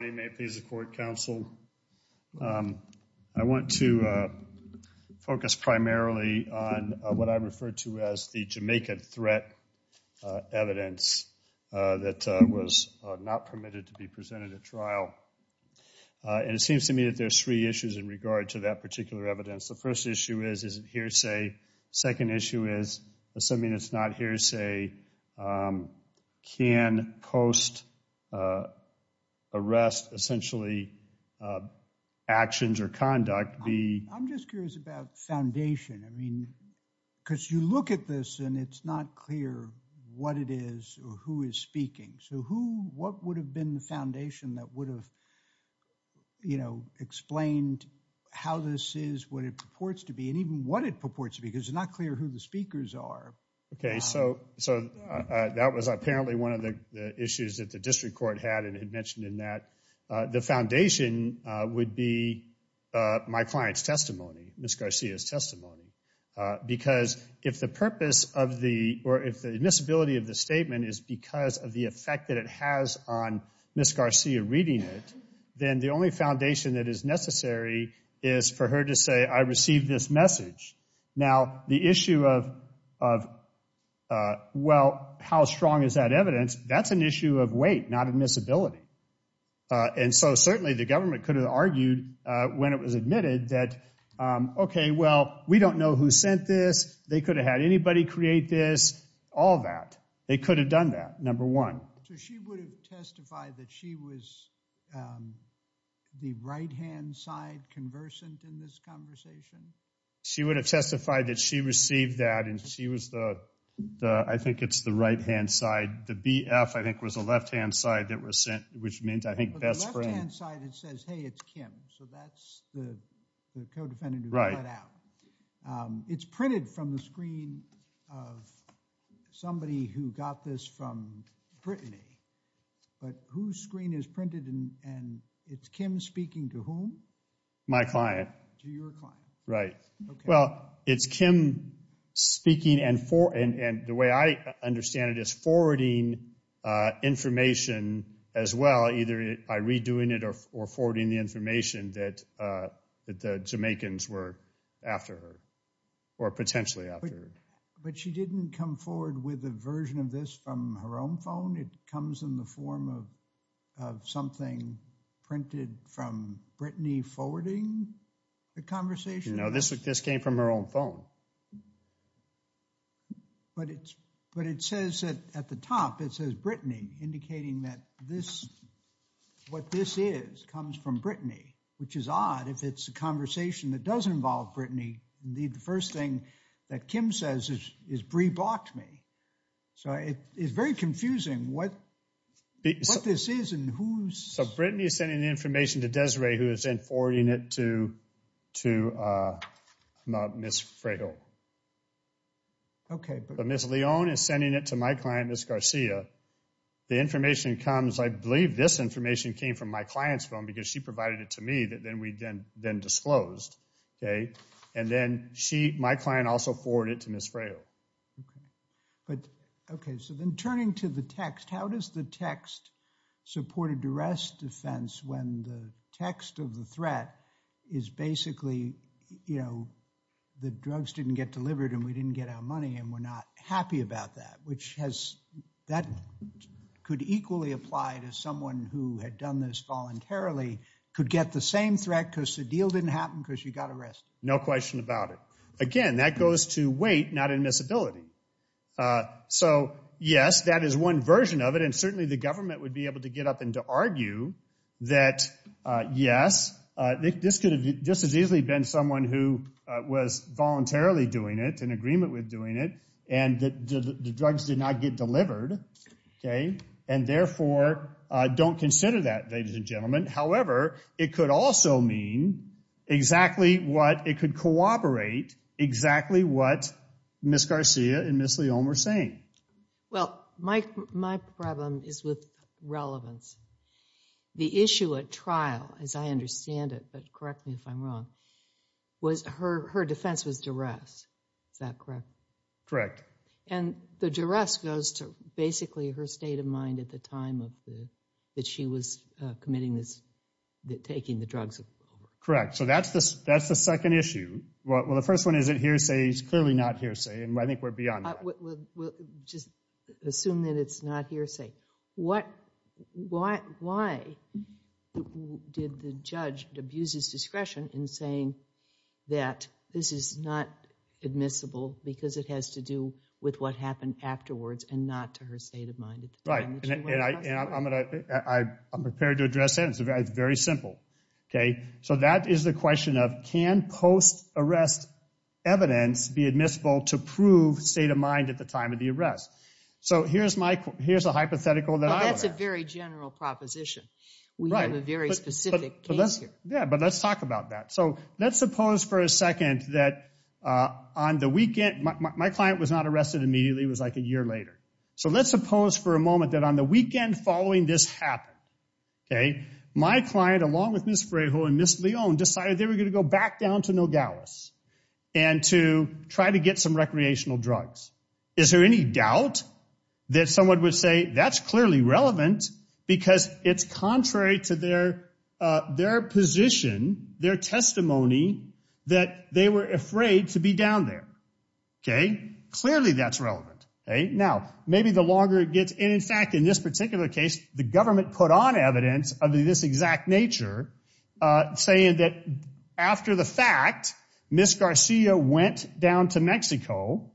I want to focus primarily on what I refer to as the Jamaican threat evidence that was not permitted to be presented at trial, and it seems to me that there's three issues in regard to that particular evidence. The first issue is, is it hearsay? Second issue is, assuming it's not hearsay, can post-arrest, essentially, actions or conduct be— So who, what would have been the foundation that would have, you know, explained how this is, what it purports to be, and even what it purports to be, because it's not clear who the speakers are. Okay, so that was apparently one of the issues that the district court had, and it had mentioned in that the foundation would be my client's testimony, Ms. Garcia's testimony, because if the purpose of the, or if the admissibility of the statement is because of the effect that it has on Ms. Garcia reading it, then the only foundation that is necessary is for her to say, I received this message. Now, the issue of, well, how strong is that evidence, that's an issue of weight, not admissibility, and so certainly the government could have argued when it was admitted that, okay, well, we don't know who sent this, they could have had anybody create this, all that. They could have done that, number one. So she would have testified that she was the right-hand side conversant in this conversation? She would have testified that she received that, and she was the, I think it's the right-hand side. The BF, I think, was the left-hand side that was sent, which meant, I think, best friend. But the left-hand side, it says, hey, it's Kim, so that's the co-defendant who cut out. It's printed from the screen of somebody who got this from Brittany, but whose screen is printed, and it's Kim speaking to whom? My client. To your client. Right. Well, it's Kim speaking, and the way I understand it is forwarding information as well, either by redoing it or forwarding the information that the Jamaicans were after her, or potentially after her. But she didn't come forward with a version of this from her own phone? It comes in the form of something printed from Brittany forwarding the conversation? No, this came from her own phone. But it says at the top, it says Brittany, indicating that this, what this is, comes from Brittany, which is odd if it's a conversation that does involve Brittany. Indeed, the first thing that Kim says is, Brie blocked me. So, it is very confusing what this is and who's... So, Brittany is sending the information to Desiree, who is then forwarding it to Ms. Fredo. Okay. But Ms. Leone is sending it to my client, Ms. Garcia. The information comes, I believe this information came from my client's phone, because she provided it to me that then we then disclosed. Okay, and then she, my client also forwarded it to Ms. Fredo. But, okay, so then turning to the text, how does the text support a duress defense when the text of the threat is basically, you know, the drugs didn't get delivered and we didn't get our money and we're not happy about that, which has, that could equally apply to someone who had done this voluntarily, could get the same threat because the deal didn't happen because you got arrested. No question about it. Again, that goes to weight, not admissibility. So, yes, that is one version of it, and certainly the government would be able to get up and to argue that, yes, this could have just as easily been someone who was voluntarily doing it, in agreement with doing it, and that the drugs did not get delivered. Okay, and therefore, don't consider that, ladies and gentlemen. However, it could also mean exactly what, it could corroborate exactly what Ms. Garcia and Ms. Leone were saying. Well, my problem is with relevance. The issue at trial, as I understand it, but correct me if I'm correct, and the duress goes to basically her state of mind at the time of the, that she was committing this, taking the drugs. Correct, so that's the, that's the second issue. Well, the first one is it hearsay, it's clearly not hearsay, and I think we're beyond that. We'll just assume that it's not hearsay. What, why, why did the judge abuse his discretion in saying that this is not admissible because it has to do with what happened afterwards and not to her state of mind? Right, and I'm going to, I'm prepared to address that. It's very simple. Okay, so that is the question of, can post-arrest evidence be admissible to prove state of mind at the time of the arrest? So here's my, here's a hypothetical that I have. That's a very general proposition. We have a very specific case here. Yeah, but let's talk about that. So let's suppose for a second that on the weekend, my client was not arrested immediately, it was like a year later. So let's suppose for a moment that on the weekend following this happened, okay, my client along with Ms. Frejo and Ms. Leone decided they were going to go back down to Nogales and to try to get some recreational drugs. Is there any doubt that someone would say that's clearly relevant because it's contrary to their position, their testimony, that they were afraid to be down there? Okay, clearly that's relevant. Okay, now maybe the longer it gets, and in fact in this particular case, the government put on evidence of this exact nature saying that after the fact, Ms. Garcia went down to Mexico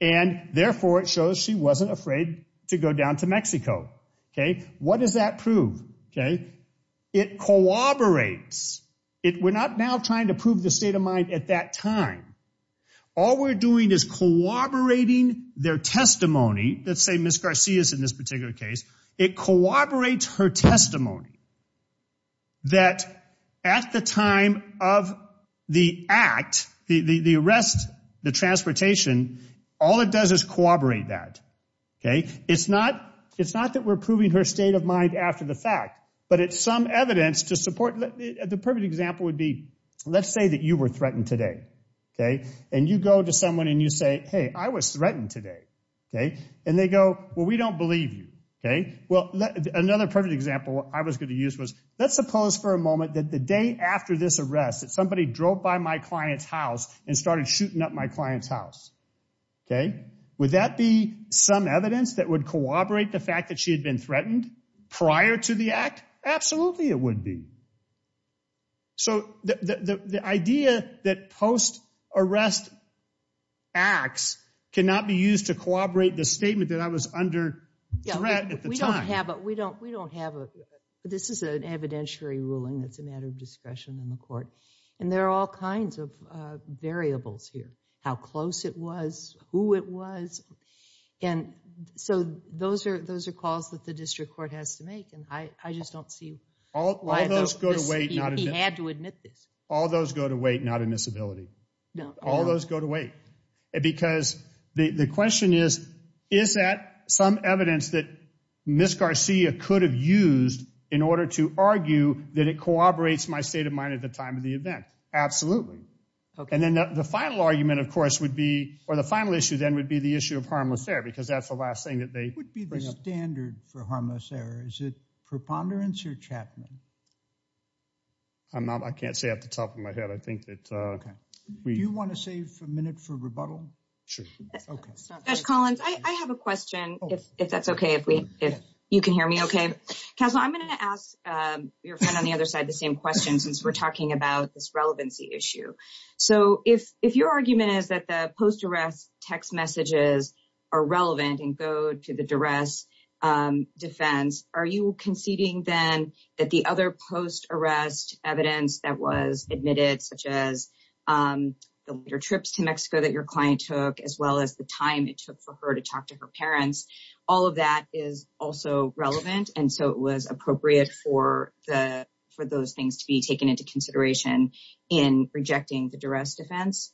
and therefore it shows she wasn't afraid to go down to Mexico. Okay, what does that prove? Okay, it corroborates. We're not now trying to prove the state of mind at that time. All we're doing is corroborating their testimony. Let's say Ms. Garcia is in this particular case. It corroborates her testimony that at the time of the act, the arrest, the transportation, all it does is corroborate that. Okay, it's not that we're proving her state of mind after the fact, but it's some evidence to support. The perfect example would be, let's say that you were threatened today. Okay, and you go to someone and you say, hey I was threatened today. Okay, and they go, well we don't believe you. Okay, well another perfect example I was going to use was, let's suppose for a moment that the day after this my client's house. Okay, would that be some evidence that would corroborate the fact that she had been threatened prior to the act? Absolutely it would be. So the idea that post arrest acts cannot be used to corroborate the statement that I was under threat at the time. We don't have a, this is an evidentiary ruling that's a matter of discretion in the court, and there are all kinds of variables here. How close it was, who it was, and so those are calls that the district court has to make, and I just don't see why those go to wait. He had to admit this. All those go to wait, not admissibility. All those go to wait, because the question is, is that some evidence that Ms. Garcia could have used in order to argue that it corroborates my mind at the time of the event? Absolutely. And then the final argument of course would be, or the final issue then would be the issue of harmless error, because that's the last thing that they bring up. What would be the standard for harmless error? Is it preponderance or Chapman? I'm not, I can't say off the top of my head. I think that. Do you want to save a minute for rebuttal? Sure. Josh Collins, I have a question if that's okay, if we, if you can hear me okay. Castle, I'm going to ask your friend on the other side the same question since we're talking about this relevancy issue. So if your argument is that the post-arrest text messages are relevant and go to the duress defense, are you conceding then that the other post-arrest evidence that was admitted, such as the later trips to Mexico that your client took, as well as the time it took for her to talk to her parents, all of that is also relevant? And so it was appropriate for those things to be taken into consideration in rejecting the duress defense?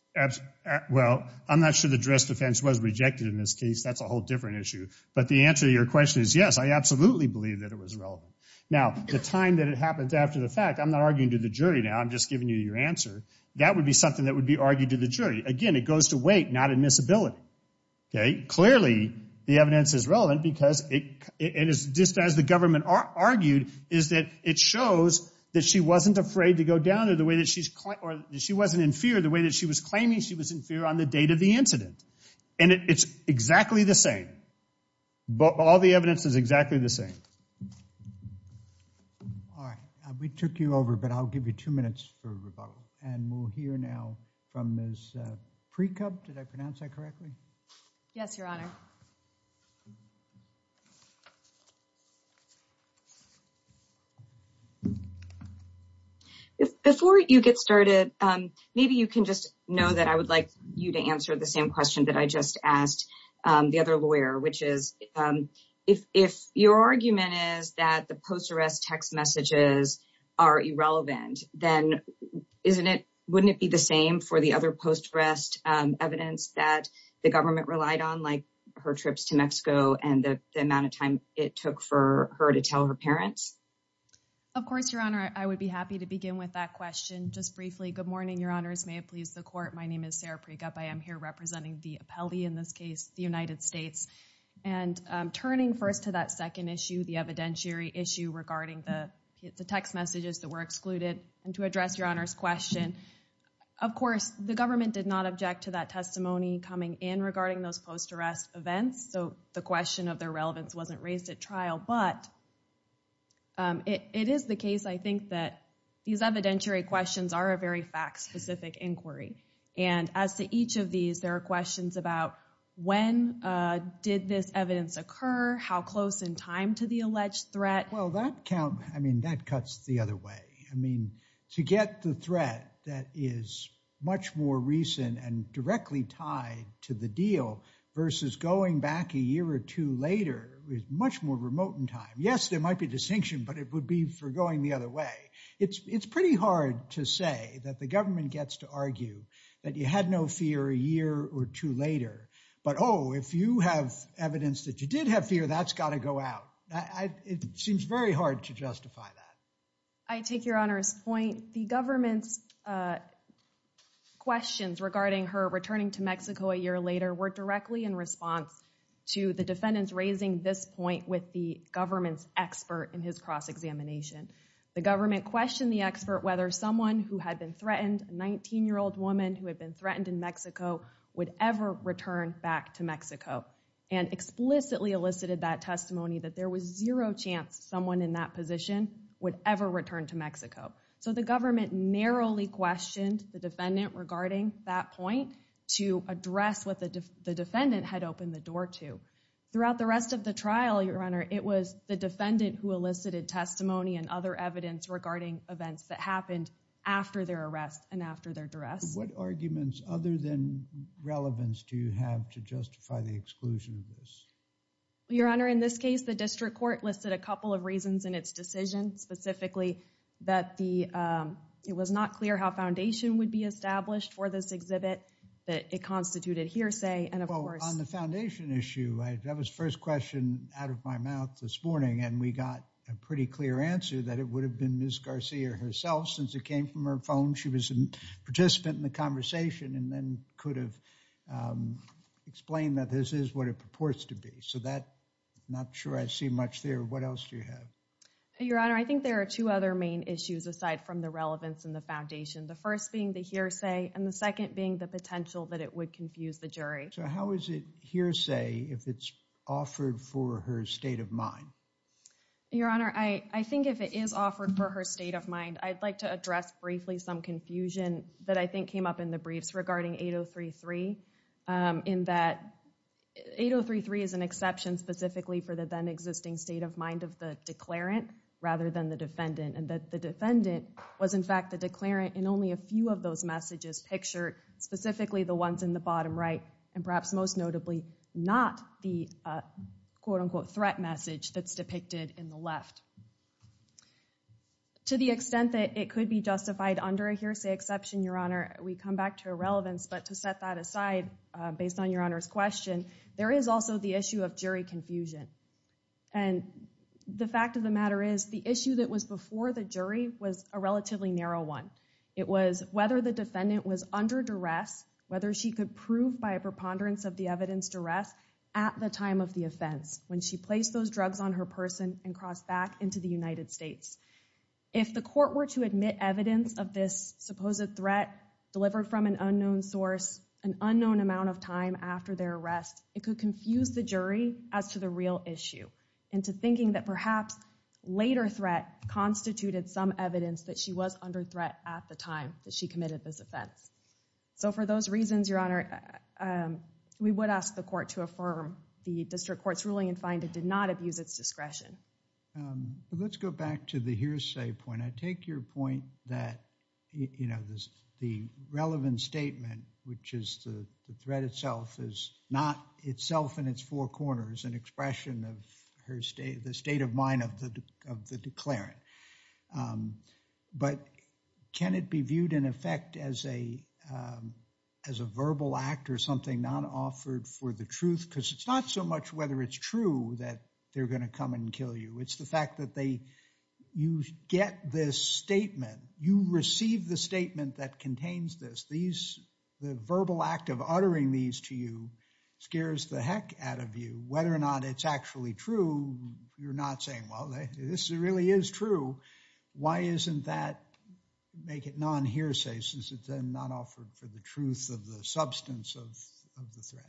Well, I'm not sure the duress defense was rejected in this case. That's a whole different issue. But the answer to your question is yes, I absolutely believe that it was relevant. Now, the time that it happened after the fact, I'm not arguing to the jury now, I'm just giving you your answer. That would be something that okay, clearly the evidence is relevant because it is just as the government argued is that it shows that she wasn't afraid to go down to the way that she's, or she wasn't in fear the way that she was claiming she was in fear on the date of the incident. And it's exactly the same. But all the evidence is exactly the same. All right, we took you over, but I'll give you two minutes for pre-cub. Did I pronounce that correctly? Yes, Your Honor. Before you get started, maybe you can just know that I would like you to answer the same question that I just asked the other lawyer, which is if your argument is that the post arrest text messages are irrelevant, then wouldn't it be the same for the other post arrest evidence that the government relied on, like her trips to Mexico and the amount of time it took for her to tell her parents? Of course, Your Honor, I would be happy to begin with that question just briefly. Good morning, Your Honors. May it please the court. My name is Sarah Prigup. I am here representing the appellee in this case, the United States. And turning first to that second issue, the evidentiary issue regarding the text messages that were excluded. And to address Your Honor's question, of course, the government did not object to that testimony coming in regarding those post arrest events. So the question of their relevance wasn't raised at trial. But it is the case, I think, that these evidentiary questions are a very fact specific inquiry. And as to each of these, there are questions about when did this evidence occur? How close in time to the alleged threat? Well, that count, I mean, that cuts the other way. I mean, to get the threat that is much more recent and directly tied to the deal versus going back a year or two later is much more remote in time. Yes, there might be a distinction, but it would be for going the other way. It's pretty hard to say that the government gets to argue that you had no fear a year or two later. But oh, if you have evidence that you did have fear, that's got to go out. It seems very hard to justify that. I take Your Honor's point. The government's questions regarding her returning to Mexico a year later were directly in response to the defendants raising this point with the government's expert in his cross-examination. The government questioned the expert whether someone who had been threatened, a 19-year-old woman who had been threatened in Mexico, would ever return back to Mexico and explicitly elicited that testimony that there was zero chance someone in that position would ever return to Mexico. So the government narrowly questioned the defendant regarding that point to address what the defendant had opened the door to. Throughout the rest of the trial, Your Honor, it was the defendant who elicited testimony and other evidence regarding events that happened after their arrest and after their duress. What arguments other than relevance do you have to justify the exclusion of this? Your Honor, in this case, the district court listed a couple of reasons in its decision, specifically that it was not clear how foundation would be established for this exhibit, that it constituted hearsay, and of course— Well, on the foundation issue, that was the first question out of my mouth this morning, and we got a pretty clear answer that it would have been Ms. Garcia herself. Since it came from her phone, she was a participant in the conversation and then could have explained that this is what it purports to be. So that—not sure I see much there. What else do you have? Your Honor, I think there are two other main issues aside from the relevance and the foundation. The first being the hearsay and the second being the potential that it would confuse the jury. So how is it hearsay if it's offered for her state of mind? Your Honor, I think if it is offered for her state of mind, I'd like to address briefly some confusion that I think came up in the briefs regarding 8033, in that 8033 is an exception specifically for the then-existing state of mind of the declarant rather than the defendant, and that the defendant was in fact the declarant in only a few of those messages pictured, specifically the ones in the bottom right, and perhaps most notably not the quote-unquote threat message that's depicted in the left. To the extent that it could be justified under a hearsay exception, Your Honor, we come back to irrelevance, but to set that aside based on Your Honor's question, there is also the issue of jury confusion. And the fact of the matter is the issue that was before the jury was a relatively narrow one. It was whether the defendant was under duress, whether she could prove by a preponderance of the arrest at the time of the offense when she placed those drugs on her person and crossed back into the United States. If the court were to admit evidence of this supposed threat delivered from an unknown source, an unknown amount of time after their arrest, it could confuse the jury as to the real issue into thinking that perhaps later threat constituted some evidence that she was under threat at the time that she committed this offense. So for those reasons, Your Honor, we would ask the court to affirm the district court's ruling and find it did not abuse its discretion. Let's go back to the hearsay point. I take your point that, you know, the relevant statement, which is the threat itself is not itself in its four corners, an expression of her state, the state of mind of the declarant. But can it be viewed in effect as a verbal act or something not offered for the truth? Because it's not so much whether it's true that they're going to come and kill you. It's the fact that they, you get this statement, you receive the statement that contains this. These, the verbal act of uttering these to you scares the heck out of you. Whether or not it's actually true, you're not saying, well, this really is true. Why isn't that make it non-hearsay since it's not offered for the truth of the substance of the threat?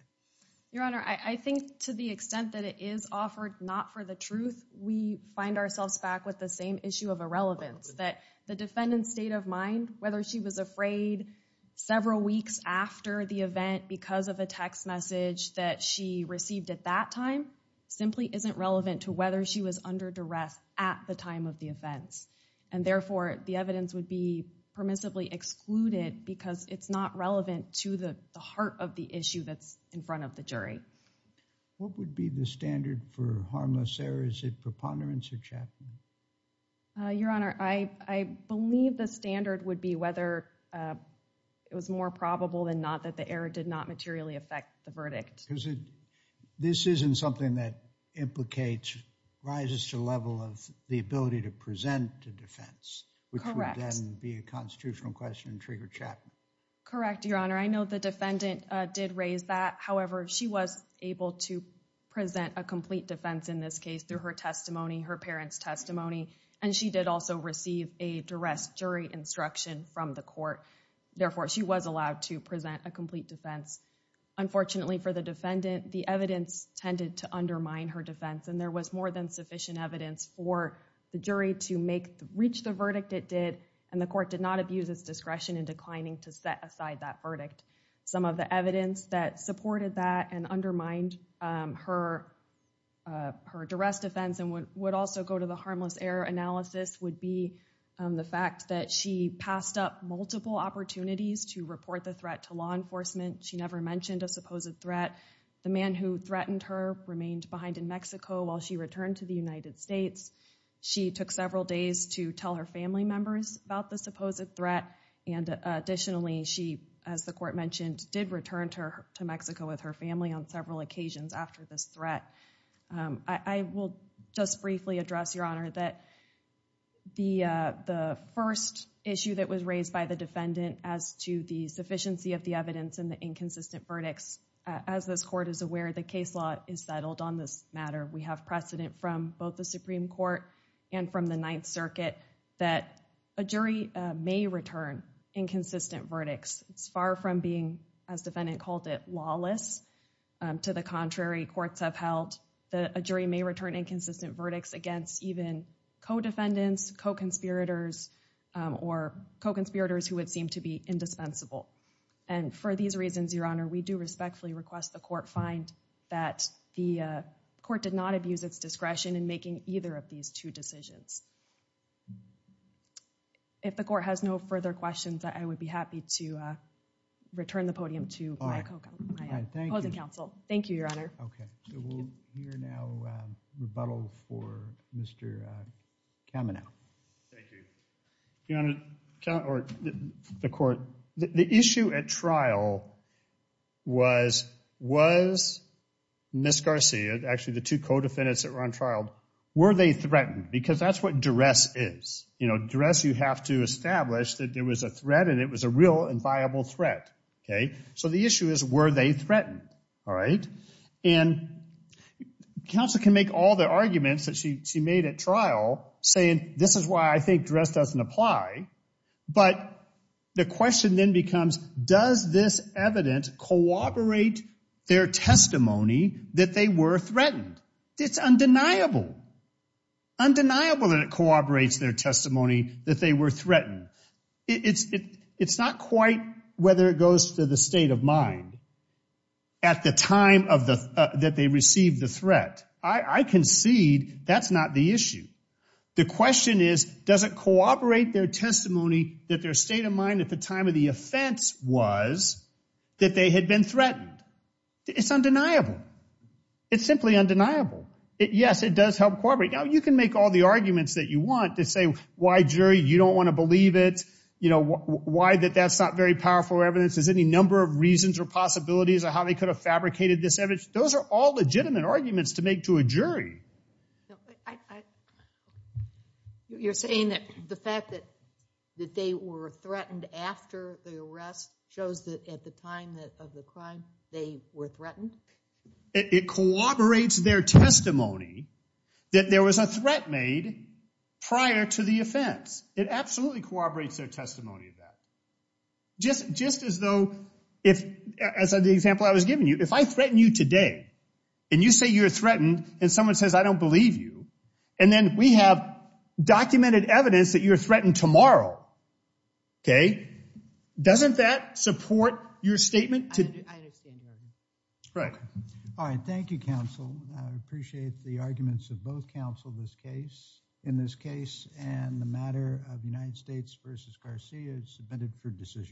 Your Honor, I think to the extent that it is offered not for the truth, we find ourselves back with the same issue of irrelevance. That the defendant's state of mind, whether she was afraid several weeks after the event because of a text message that she received at that time, simply isn't relevant to whether she was under duress at the time of the offense. And therefore, the evidence would be permissibly excluded because it's not relevant to the heart of the issue that's in front of the jury. What would be the standard for harmless error? Is it preponderance or chaffing? Your Honor, I believe the standard would be whether it was more probable than not that the error did not materially affect the verdict. This isn't something that implicates, rises to the level of the ability to present a defense, which would then be a constitutional question and trigger chaffing. Correct, Your Honor. I know the defendant did raise that. However, she was able to present a complete defense in this case through her testimony, her parents' testimony. And she did also receive a duress jury instruction from the court. Therefore, she was allowed to present a complete defense. Unfortunately for the defendant, the evidence tended to undermine her defense. And there was more than sufficient evidence for the jury to reach the verdict it did. And the court did not abuse its discretion in declining to set aside that verdict. Some of the evidence that supported that and undermined her duress defense and would also go to the harmless error analysis would be the fact that she passed up multiple opportunities to report the threat to law enforcement. She never mentioned a supposed threat. The man who threatened her remained behind in Mexico while she returned to the United States. She took several days to tell her family members about the supposed threat. And additionally, she, as the court mentioned, did return to Mexico with her family on several occasions after this threat. I will just briefly address, Your Honor, that the first issue that was raised by the defendant as to the sufficiency of the evidence and the inconsistent verdicts, as this court is aware, the case law is settled on this matter. We have precedent from both the Supreme Court and from the Ninth Circuit that a jury may return inconsistent verdicts. It's far from being, as defendant called it, lawless. To the contrary, courts have held that a jury may return inconsistent verdicts against even co-defendants, co-conspirators, or co-conspirators who would seem to be indispensable. And for these reasons, Your Honor, we do respectfully request the court find that the court did not abuse its discretion in making either of these two decisions. If the court has no further questions, I would be happy to turn the podium to my opposing counsel. Thank you, Your Honor. Okay, so we'll hear now a rebuttal for Mr. Kamenow. Thank you. Your Honor, or the court, the issue at trial was, was Ms. Garcia, actually the two co-defendants that were on trial, were they threatened? Because that's what duress is. You know, duress you have to establish that there was a threat and it was a real and viable threat, okay? So the issue is, were they threatened? All right? And counsel can make all the arguments that she made at trial saying, this is why I think duress doesn't apply. But the question then becomes, does this evidence corroborate their testimony that they were threatened? It's undeniable, undeniable that corroborates their testimony that they were threatened. It's not quite whether it goes to the state of mind at the time that they received the threat. I concede that's not the issue. The question is, does it corroborate their testimony that their state of mind at the time of the offense was that they had been threatened? It's undeniable. It's simply undeniable. Yes, it does help corroborate. Now, you can make all the arguments that you want to say, why jury, you don't want to believe it. You know, why that that's not very powerful evidence. Is any number of reasons or possibilities of how they could have fabricated this evidence? Those are all legitimate arguments to make to a jury. You're saying that the fact that that they were threatened after the arrest shows that at the time that of the crime, they were threatened? It corroborates their testimony that there was a threat made prior to the offense. It absolutely corroborates their testimony of that. Just as though if, as the example I was giving you, if I threaten you today and you say you're threatened and someone says, I don't believe you, and then we have documented evidence that you're threatened tomorrow. Okay. Doesn't that support your statement? Right. All right. Thank you, counsel. I appreciate the arguments of both counsel, this case, in this case, and the matter of United States versus Garcia submitted for decision.